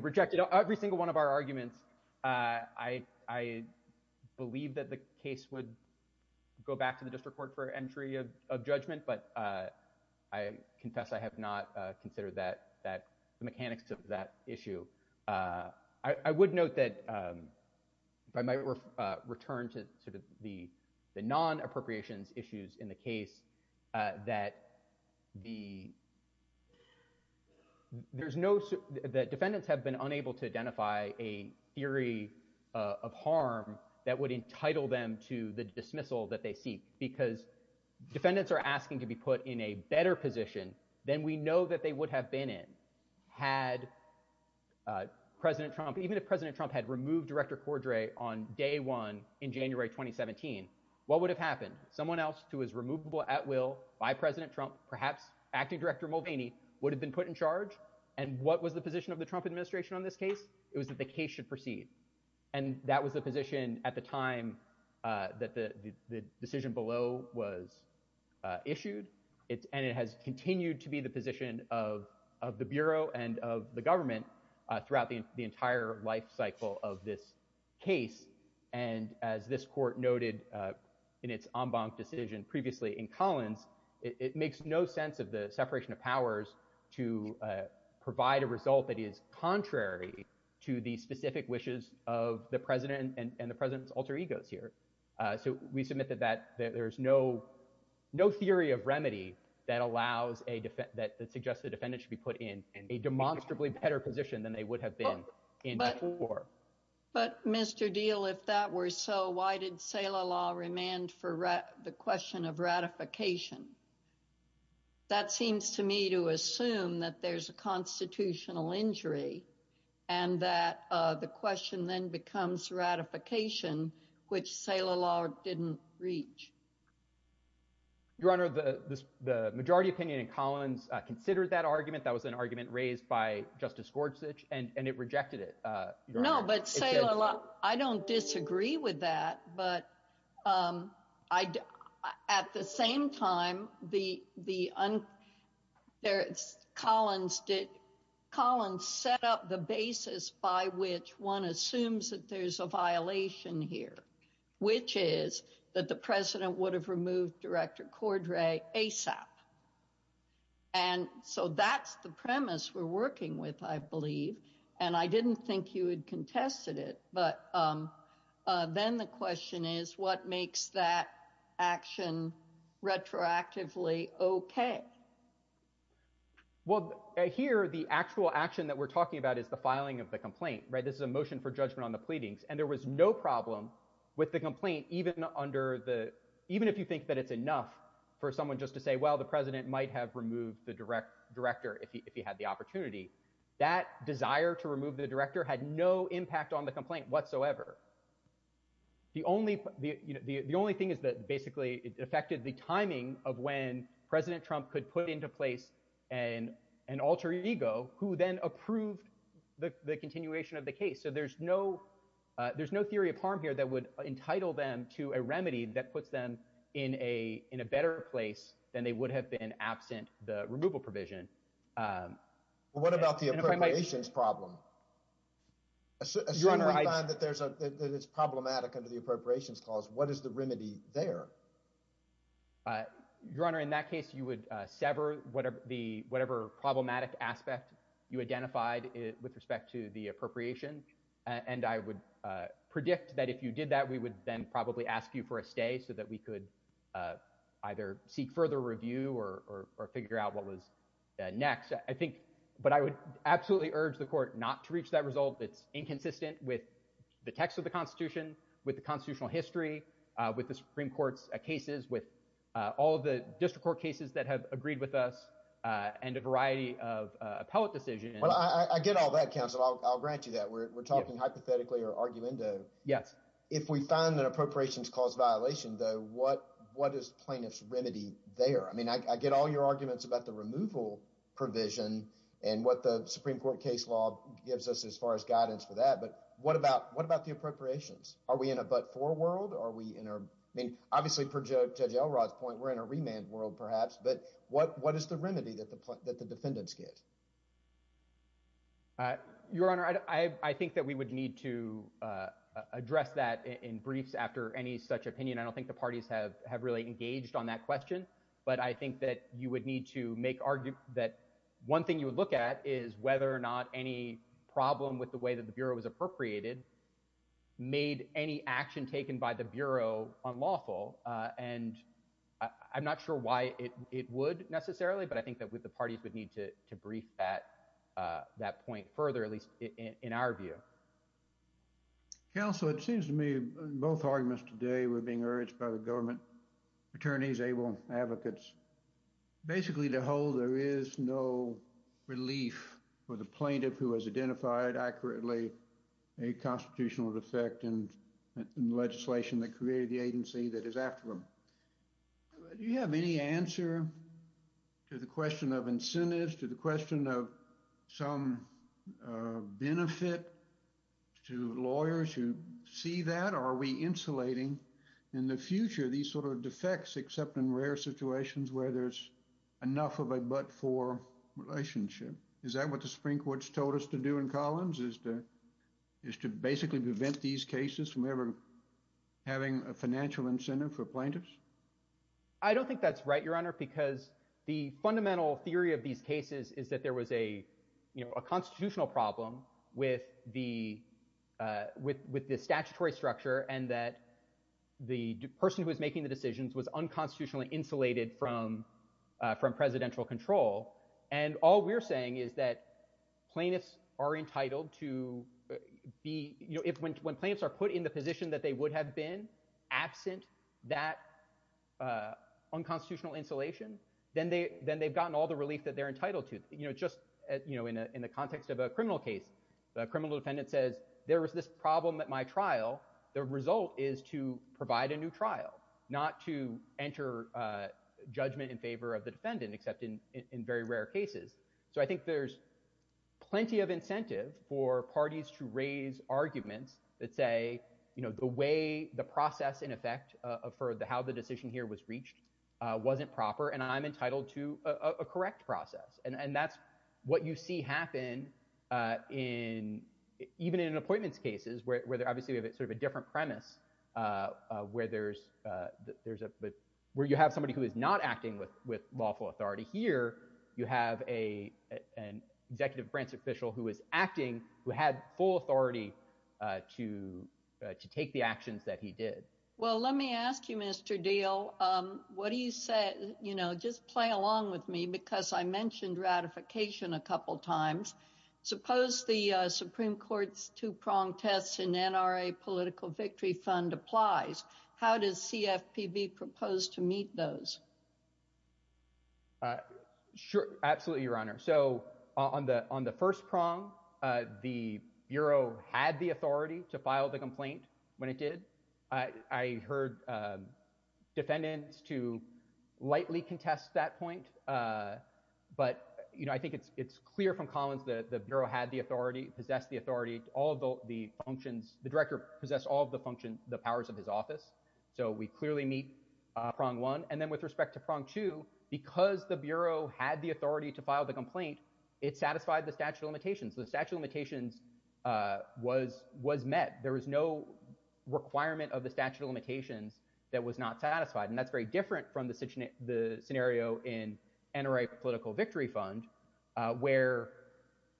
that the case would go back to the district court for entry of, of judgment, but, uh, I confess I have not, uh, considered that, that, the mechanics of that issue. Uh, I, I would note that, um, if I might, uh, return to sort of the, the non-appropriations issues in the case, uh, that the, there's no, the defendants have been unable to identify a theory, uh, of harm that would entitle them to the dismissal that they seek, because defendants are asking to be put in a better position than we know that they would have been in had, uh, President Trump, even if President Trump had removed Director Cordray on day one in January 2017, what would have happened? Someone else who was removable at will by President Trump, perhaps Acting Director Mulvaney, would have been put in charge, and what was the position of the Trump administration on this case? It was that the case should proceed, and that was the position at the time, uh, that the, the, the decision below was, uh, issued. It's, and it has continued to be the position of, of the Bureau and of the government, uh, throughout the, the entire life cycle of this case, and as this court noted, uh, in its en banc decision previously in Collins, it, it makes no sense of the separation of powers to, uh, provide a result that is contrary to the specific wishes of the President and, and the President's alter egos here. Uh, so we submit that that, that there's no, no theory of remedy that allows a defen- that, that suggests the defendant should be put in a demonstrably better position than they would have been in before. But, but Mr. Deal, if that were so, why did there's a constitutional injury, and that, uh, the question then becomes ratification, which Saylor Law didn't reach? Your Honor, the, the majority opinion in Collins, uh, considered that argument. That was an argument raised by Justice Gorsuch, and, and it rejected it, uh, Your Honor. No, but Saylor Law, I don't disagree with that, but, um, I, at the same time, the, the un- there, Collins did, Collins set up the basis by which one assumes that there's a violation here, which is that the President would have removed Director Cordray ASAP. And so that's the premise we're working with, I believe, and I didn't think you had contested it, but, um, uh, then the question is what makes that action retroactively okay? Well, uh, here, the actual action that we're talking about is the filing of the complaint, right? This is a motion for judgment on the pleadings, and there was no problem with the complaint, even under the- even if you think that it's enough for someone just to say, well, the President might have removed the direct- Director if he, if he had the opportunity. That desire to remove the director had no impact on the complaint whatsoever. The only, the, you know, the, the only thing is that basically it affected the timing of when President Trump could put into place an, an alter ego who then approved the, the continuation of the case. So there's no, uh, there's no theory of harm here that would entitle them to a remedy that puts them in a, in a better place than they would have been absent the removal provision. Um, and if I might- Well, what about the appropriations problem? Assuming that there's a, that it's problematic under the appropriations clause, what is the remedy there? Uh, Your Honor, in that case, you would, uh, sever whatever the, whatever problematic aspect you identified with respect to the appropriation. And I would, uh, predict that if you did that, we would then probably ask you for a stay so that we could, uh, either seek further review or, or, or figure out what was next. I think, but I would absolutely urge the court not to reach that result. It's inconsistent with the text of the constitution, with the constitutional history, uh, with the Supreme Court's cases, with, uh, all of the district court cases that have agreed with us, uh, and a variety of, uh, appellate decisions. Well, I, I get all that counsel. I'll, I'll grant you that we're, we're talking hypothetically or arguendo. Yes. If we find that appropriations cause violation though, what, what is plaintiff's remedy there? I mean, I, I get all your arguments about the removal provision and what the Supreme Court case law gives us as far as guidance for that, but what about, what about the appropriations? Are we in a but-for world? Are we in a, I mean, obviously per Judge, Judge Elrod's point, we're in a remand world perhaps, but what, what is the remedy that the, that the defendants get? Uh, Your Honor, I, I, I think that we would need to, uh, uh, address that in, in briefs after any such opinion. I don't think the parties have, have really engaged on that question, but I think that you would need to make, argue that one thing you would look at is whether or not any problem with the way that the Bureau was appropriated made any action taken by the Bureau unlawful. Uh, and I, I'm not sure why it, it would necessarily, but I think that with the parties would need to, to brief that, uh, that point further, at least in, in our view. Counsel, it seems to me both arguments today were being urged by the government attorneys, able advocates, basically to hold, there is no relief for the plaintiff who has identified accurately a constitutional defect in legislation that created the agency that is after the Supreme Court. Do you have any answer to the question of incentives, to the question of some, uh, benefit to lawyers who see that? Are we insulating in the future these sort of defects, except in rare situations where there's enough of a but-for relationship? Is that what the Supreme Court's told us to do in Collins, is to, is to basically prevent these cases from ever having a financial incentive for plaintiffs? I don't think that's right, Your Honor, because the fundamental theory of these cases is that there was a, you know, a constitutional problem with the, uh, with, with the statutory structure and that the person who was making the decisions was unconstitutionally insulated from, uh, from presidential control. And all we're saying is that are put in the position that they would have been absent that, uh, unconstitutional insulation, then they, then they've gotten all the relief that they're entitled to. You know, just, you know, in a, in the context of a criminal case, a criminal defendant says, there was this problem at my trial. The result is to provide a new trial, not to enter, uh, judgment in favor of the defendant, except in, in very rare cases. So I think there's plenty of incentive for parties to raise arguments that say, you know, the way the process in effect, uh, for the, how the decision here was reached, uh, wasn't proper and I'm entitled to a, a correct process. And, and that's what you see happen, uh, in, even in appointments cases where, where they're obviously sort of a different premise, uh, uh, where there's, uh, there's a, where you have somebody who is not acting with, with lawful authority. Here, you have a, an executive branch official who is acting, who had full authority, uh, to, uh, to take the actions that he did. Well, let me ask you, Mr. Deal. Um, what do you say, you know, just play along with me, because I mentioned ratification a couple of times. Suppose the, uh, Supreme Court's two-pronged tests in NRA political victory fund applies. How does CFPB propose to meet those? Uh, sure. Absolutely, Your Honor. So on the, on the first prong, uh, the Bureau had the authority to file the complaint when it did. I, I heard, um, defendants to lightly contest that point. Uh, but, you know, I think it's, it's clear from Collins that the Bureau had the authority, possessed the authority, all of the functions, the director possessed all of the functions, the powers of his office. So we clearly meet, uh, prong one. And then with respect to prong two, because the Bureau had the authority to file the complaint, it satisfied the statute of limitations. The statute of limitations, uh, was, was met. There was no requirement of the statute of limitations that was not satisfied. And that's very different from the situation, the scenario in NRA political victory fund, uh, where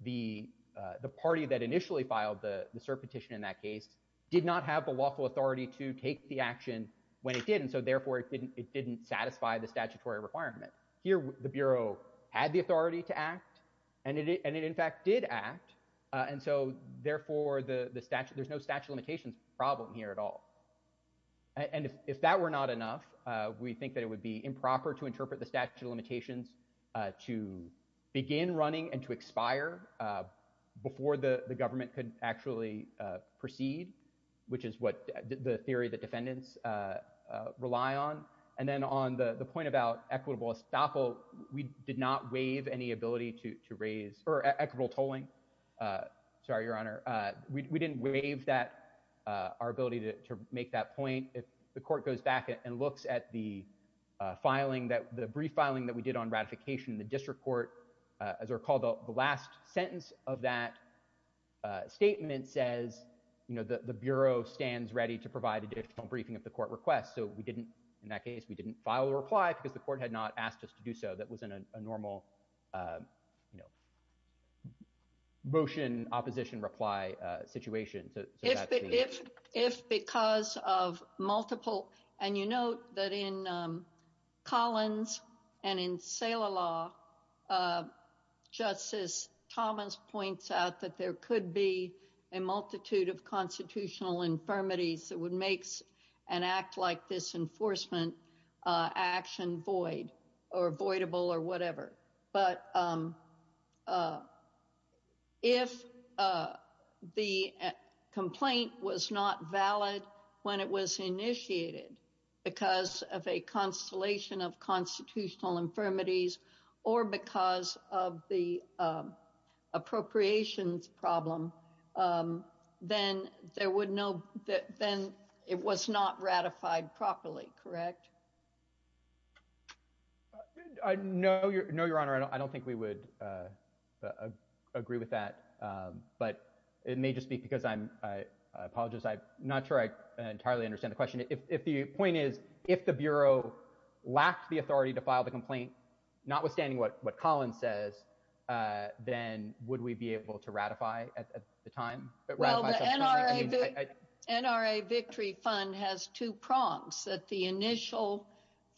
the, uh, the party that initially filed the, the cert petition in that case did not have the lawful authority to take the action when it did. And so therefore it didn't, it didn't satisfy the statutory requirement. Here, the Bureau had the authority to act and it, and it in fact did act. Uh, and so therefore the, the statute, there's no statute of limitations problem here at all. And if, if that were not enough, uh, we think that it would be improper to interpret the statute of limitations, uh, to begin running and to expire, uh, before the government could actually, uh, proceed, which is what the theory that defendants, uh, uh, rely on. And then on the point about equitable estoppel, we did not waive any ability to, to raise or equitable tolling. Uh, sorry, Your Honor. Uh, we, we didn't waive that, uh, our ability to make that point. If the court goes back and looks at the, uh, filing that the brief filing that we did on ratification, the district court, uh, as are called the last sentence of that, uh, statement says, you know, the, the Bureau stands ready to provide additional briefing of the court requests. So we didn't, in that case, we didn't file a reply because the court had not asked us to do so. That wasn't a normal, um, you know, motion opposition reply, uh, situation. So, so that's the... But in, um, Collins and in Saleh law, uh, Justice Thomas points out that there could be a multitude of constitutional infirmities that would make an act like this enforcement, uh, action void or voidable or whatever. But, um, uh, if, uh, the complaint was not valid when it was initiated because of a constellation of constitutional infirmities or because of the, um, appropriations problem, um, then there would no, then it was not ratified properly, correct? I know your, no, Your Honor, I don't, I don't think we would, uh, uh, agree with that. Um, it may just be because I'm, uh, I apologize. I'm not sure I entirely understand the question. If, if the point is, if the Bureau lacked the authority to file the complaint, notwithstanding what, what Collins says, uh, then would we be able to ratify at the time? NRA Victory Fund has two prompts that the initial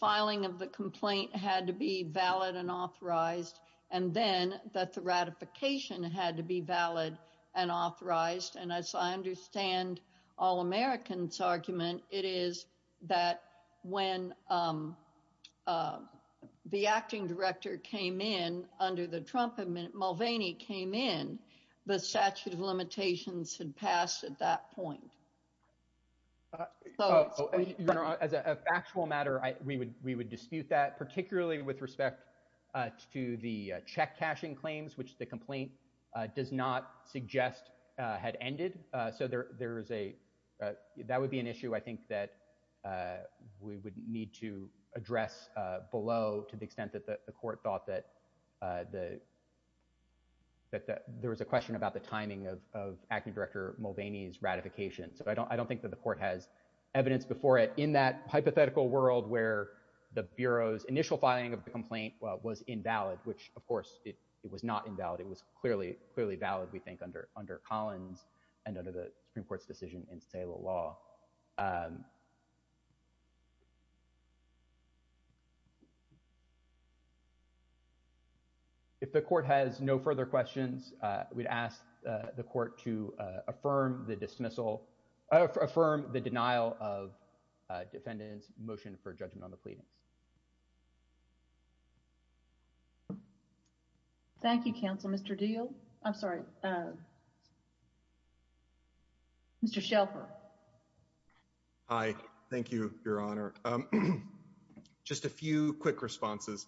filing of the complaint had to be valid and authorized. And as I understand All-American's argument, it is that when, um, um, the acting director came in under the Trump admin, Mulvaney came in, the statute of limitations had passed at that point. Uh, Your Honor, as a factual matter, I, we would, we would dispute that particularly with respect, uh, to the, uh, check cashing claims, which the complaint, uh, does not suggest, uh, had ended. Uh, so there, there is a, uh, that would be an issue I think that, uh, we would need to address, uh, below to the extent that the, the court thought that, uh, the, that, that there was a question about the timing of, of acting director Mulvaney's ratification. So I don't, I don't think that the court has evidence before it in that hypothetical world where the Bureau's initial filing of the complaint, uh, was invalid, which of course it, it was not invalid. It was clearly, clearly valid we think under, under Collins and under the Supreme Court's decision in sale of law. If the court has no further questions, uh, we'd ask, uh, the court to, uh, affirm the dismissal, affirm the denial of, uh, defendant's motion for judgment on the pleadings. Thank you, counsel, Mr. Deal. I'm sorry. Uh, Mr. Shelper. Hi, thank you, your honor. Um, just a few quick responses.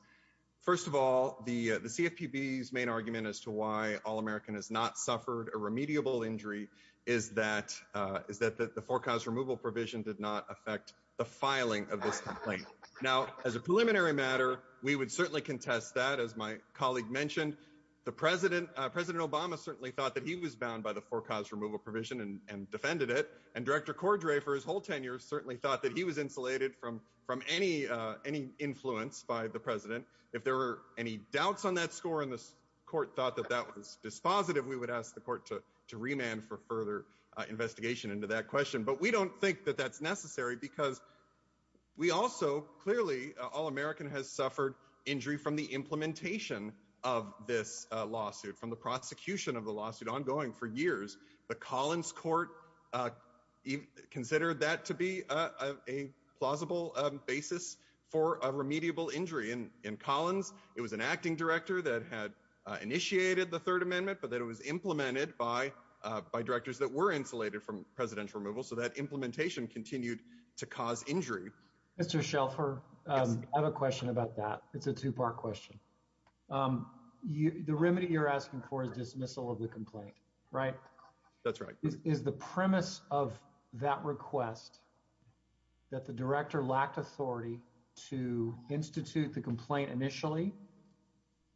First of all, the, uh, the CFPB's main argument as to why all American has not suffered a remediable injury is that, uh, is that the forecast removal provision did not affect the filing of this complaint. Now as a preliminary matter, we would certainly contest that as my colleague mentioned, the president, uh, president Obama certainly thought that he was bound by the forecast removal provision and defended it. And director Cordray for his whole tenure certainly thought that he was insulated from, from any, uh, any influence by the president. If there were any doubts on that score in this court thought that that was dispositive, we would ask the court to, to remand for further investigation into that question. But we don't think that that's necessary because we also clearly, uh, all American has suffered injury from the implementation of this, uh, lawsuit from the prosecution of the lawsuit ongoing for years, but Collins court, uh, considered that to be, uh, a plausible, um, basis for a remediable injury in Collins. It was an acting director that had, uh, initiated the third amendment, but that it was implemented by, uh, by directors that were insulated from presidential removal. So that implementation continued to cause injury. Mr. Shelfer. Um, I have a question about that. It's a two-part question. Um, you, the remedy you're asking for is dismissal of the complaint, right? That's right. Is the premise of that request that the director lacked authority to institute the complaint initially,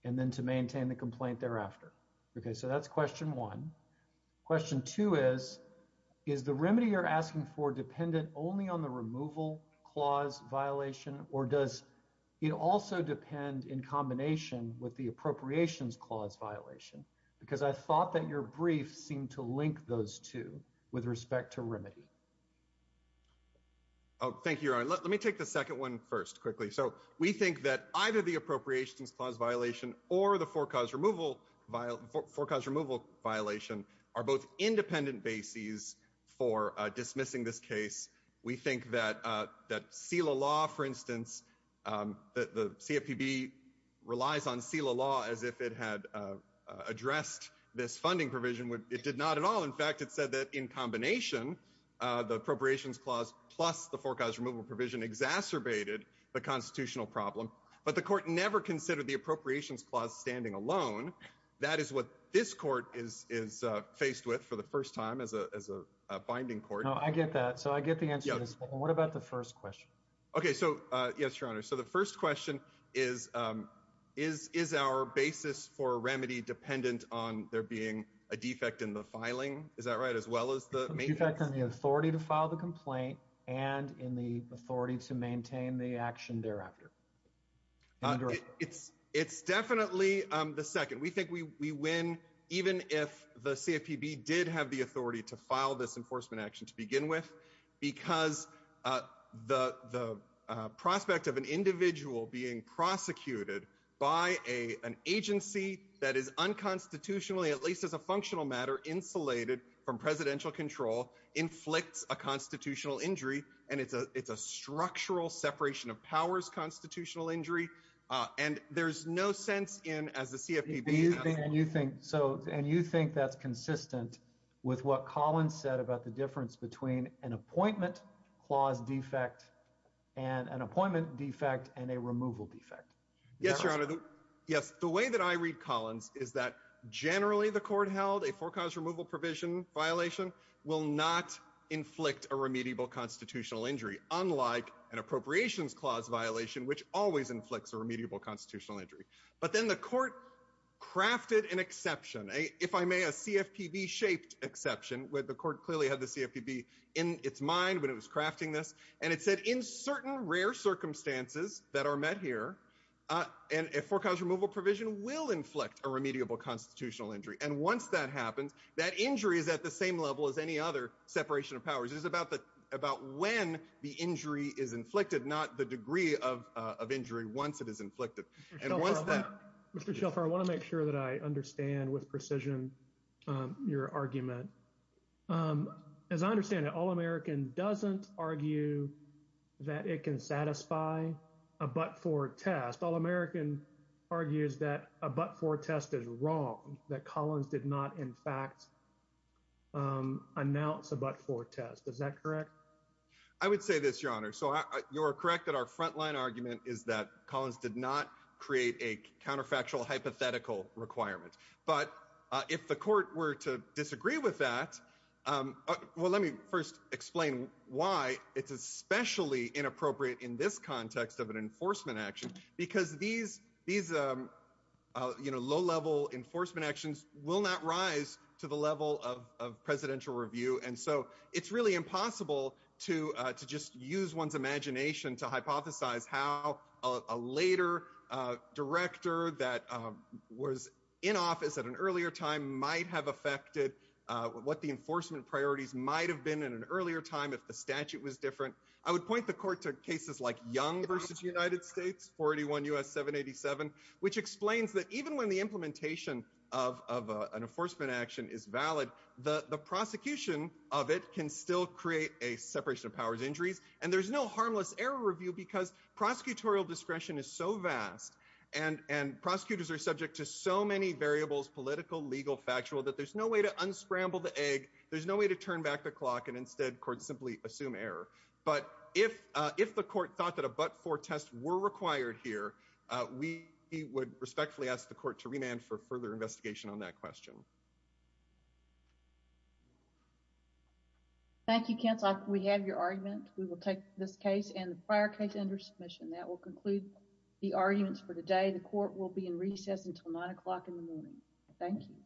and then to maintain the complaint thereafter. Okay. So that's question one question two is, is the remedy you're asking for dependent only on the removal clause violation, or does it also depend in combination with the appropriations clause violation? Because I thought that your brief seemed to link those two with respect to remedy. Oh, thank you. Let me take the second one first quickly. So we think that either the appropriations clause violation or the forecast removal violent forecast removal violation are both independent bases for dismissing this case. We think that, uh, that seal a law, for instance, um, that the CFPB relies on seal a law as if it had, uh, uh, addressed this funding provision would, it did not at all. In fact, it said that in combination, uh, the appropriations clause plus the forecast removal provision exacerbated the constitutional problem, but the court never considered the appropriations clause standing alone. That is what this court is, is, uh, faced with for the first time as a, as a binding court. No, I get that. So I get the answer. What about the first question? Okay. So, uh, yes, your honor. So the first question is, um, is, is our basis for remedy dependent on there being a defect in the filing? Is that right? As well as the main factor in the authority to file the complaint and in the authority to maintain the action thereafter. It's, it's definitely, um, the second we think we, we win, even if the CFPB did have the authority to file this enforcement action to begin with, because, uh, the, the, uh, prospect of an individual being prosecuted by a, an agency that is unconstitutionally, at least as a functional matter insulated from presidential control inflicts a constitutional injury. And it's a, it's a structural separation of powers, constitutional injury. Uh, and there's no sense in as the CFPB and you think, so, and you think that's consistent with what Colin said about the difference between an appointment clause defect and an appointment defect and a removal defect. Yes, your honor. Yes. The way that I read Collins is that generally the court held a forecast removal provision violation will not inflict a remediable constitutional injury. Unlike an appropriations clause violation, which always inflicts a remediable constitutional injury. But then the court crafted an exception, if I may, a CFPB shaped exception with the court clearly had the CFPB in its mind when it was crafting this. And it said in certain rare circumstances that are met here, uh, and a forecast removal provision will inflict a remediable constitutional injury. And once that happens, that injury is at the same level as any other separation of powers. It's about the, about when the injury is inflicted, not the degree of, uh, of injury once it is inflicted. Mr. Shelfer, I want to make sure that I understand with precision, um, your argument, um, as I understand it, all American doesn't argue that it can satisfy a, but for test, all American argues that a, but for test is wrong, that Collins did not in fact, um, announce a, but for test, is that correct? I would say this, your honor. So you're correct that our frontline argument is that Collins did not create a counterfactual hypothetical requirement. But, uh, if the court were to disagree with that, um, uh, well, let me first explain why it's especially inappropriate in this context of an enforcement action, because these, these, um, uh, you know, low level enforcement actions will not rise to the level of, of presidential review. And so it's really impossible to, uh, to just use one's imagination to hypothesize how a later, uh, director that, um, was in office at an earlier time might have affected, uh, what the enforcement priorities might've been in an earlier time. If the statute was different, I would point the court to cases like young versus United States 41 U S seven 87, which explains that even when the implementation of, of, uh, an enforcement action is valid, the prosecution of it can still create a separation of powers injuries. And there's no harmless error review because prosecutorial discretion is so vast and, and prosecutors are subject to so many variables, political, legal, factual, that there's no way to unscramble the egg. There's no way to turn back the clock and instead court simply assume error. But if, uh, if the court thought that a, but for tests were required here, uh, we, he would respectfully ask the court to remand for further investigation on that question. Thank you. Cancel. We have your argument. We will take this case and the prior case under submission that will conclude the arguments for the day. The court will be in recess until nine o'clock in the morning. Thank you.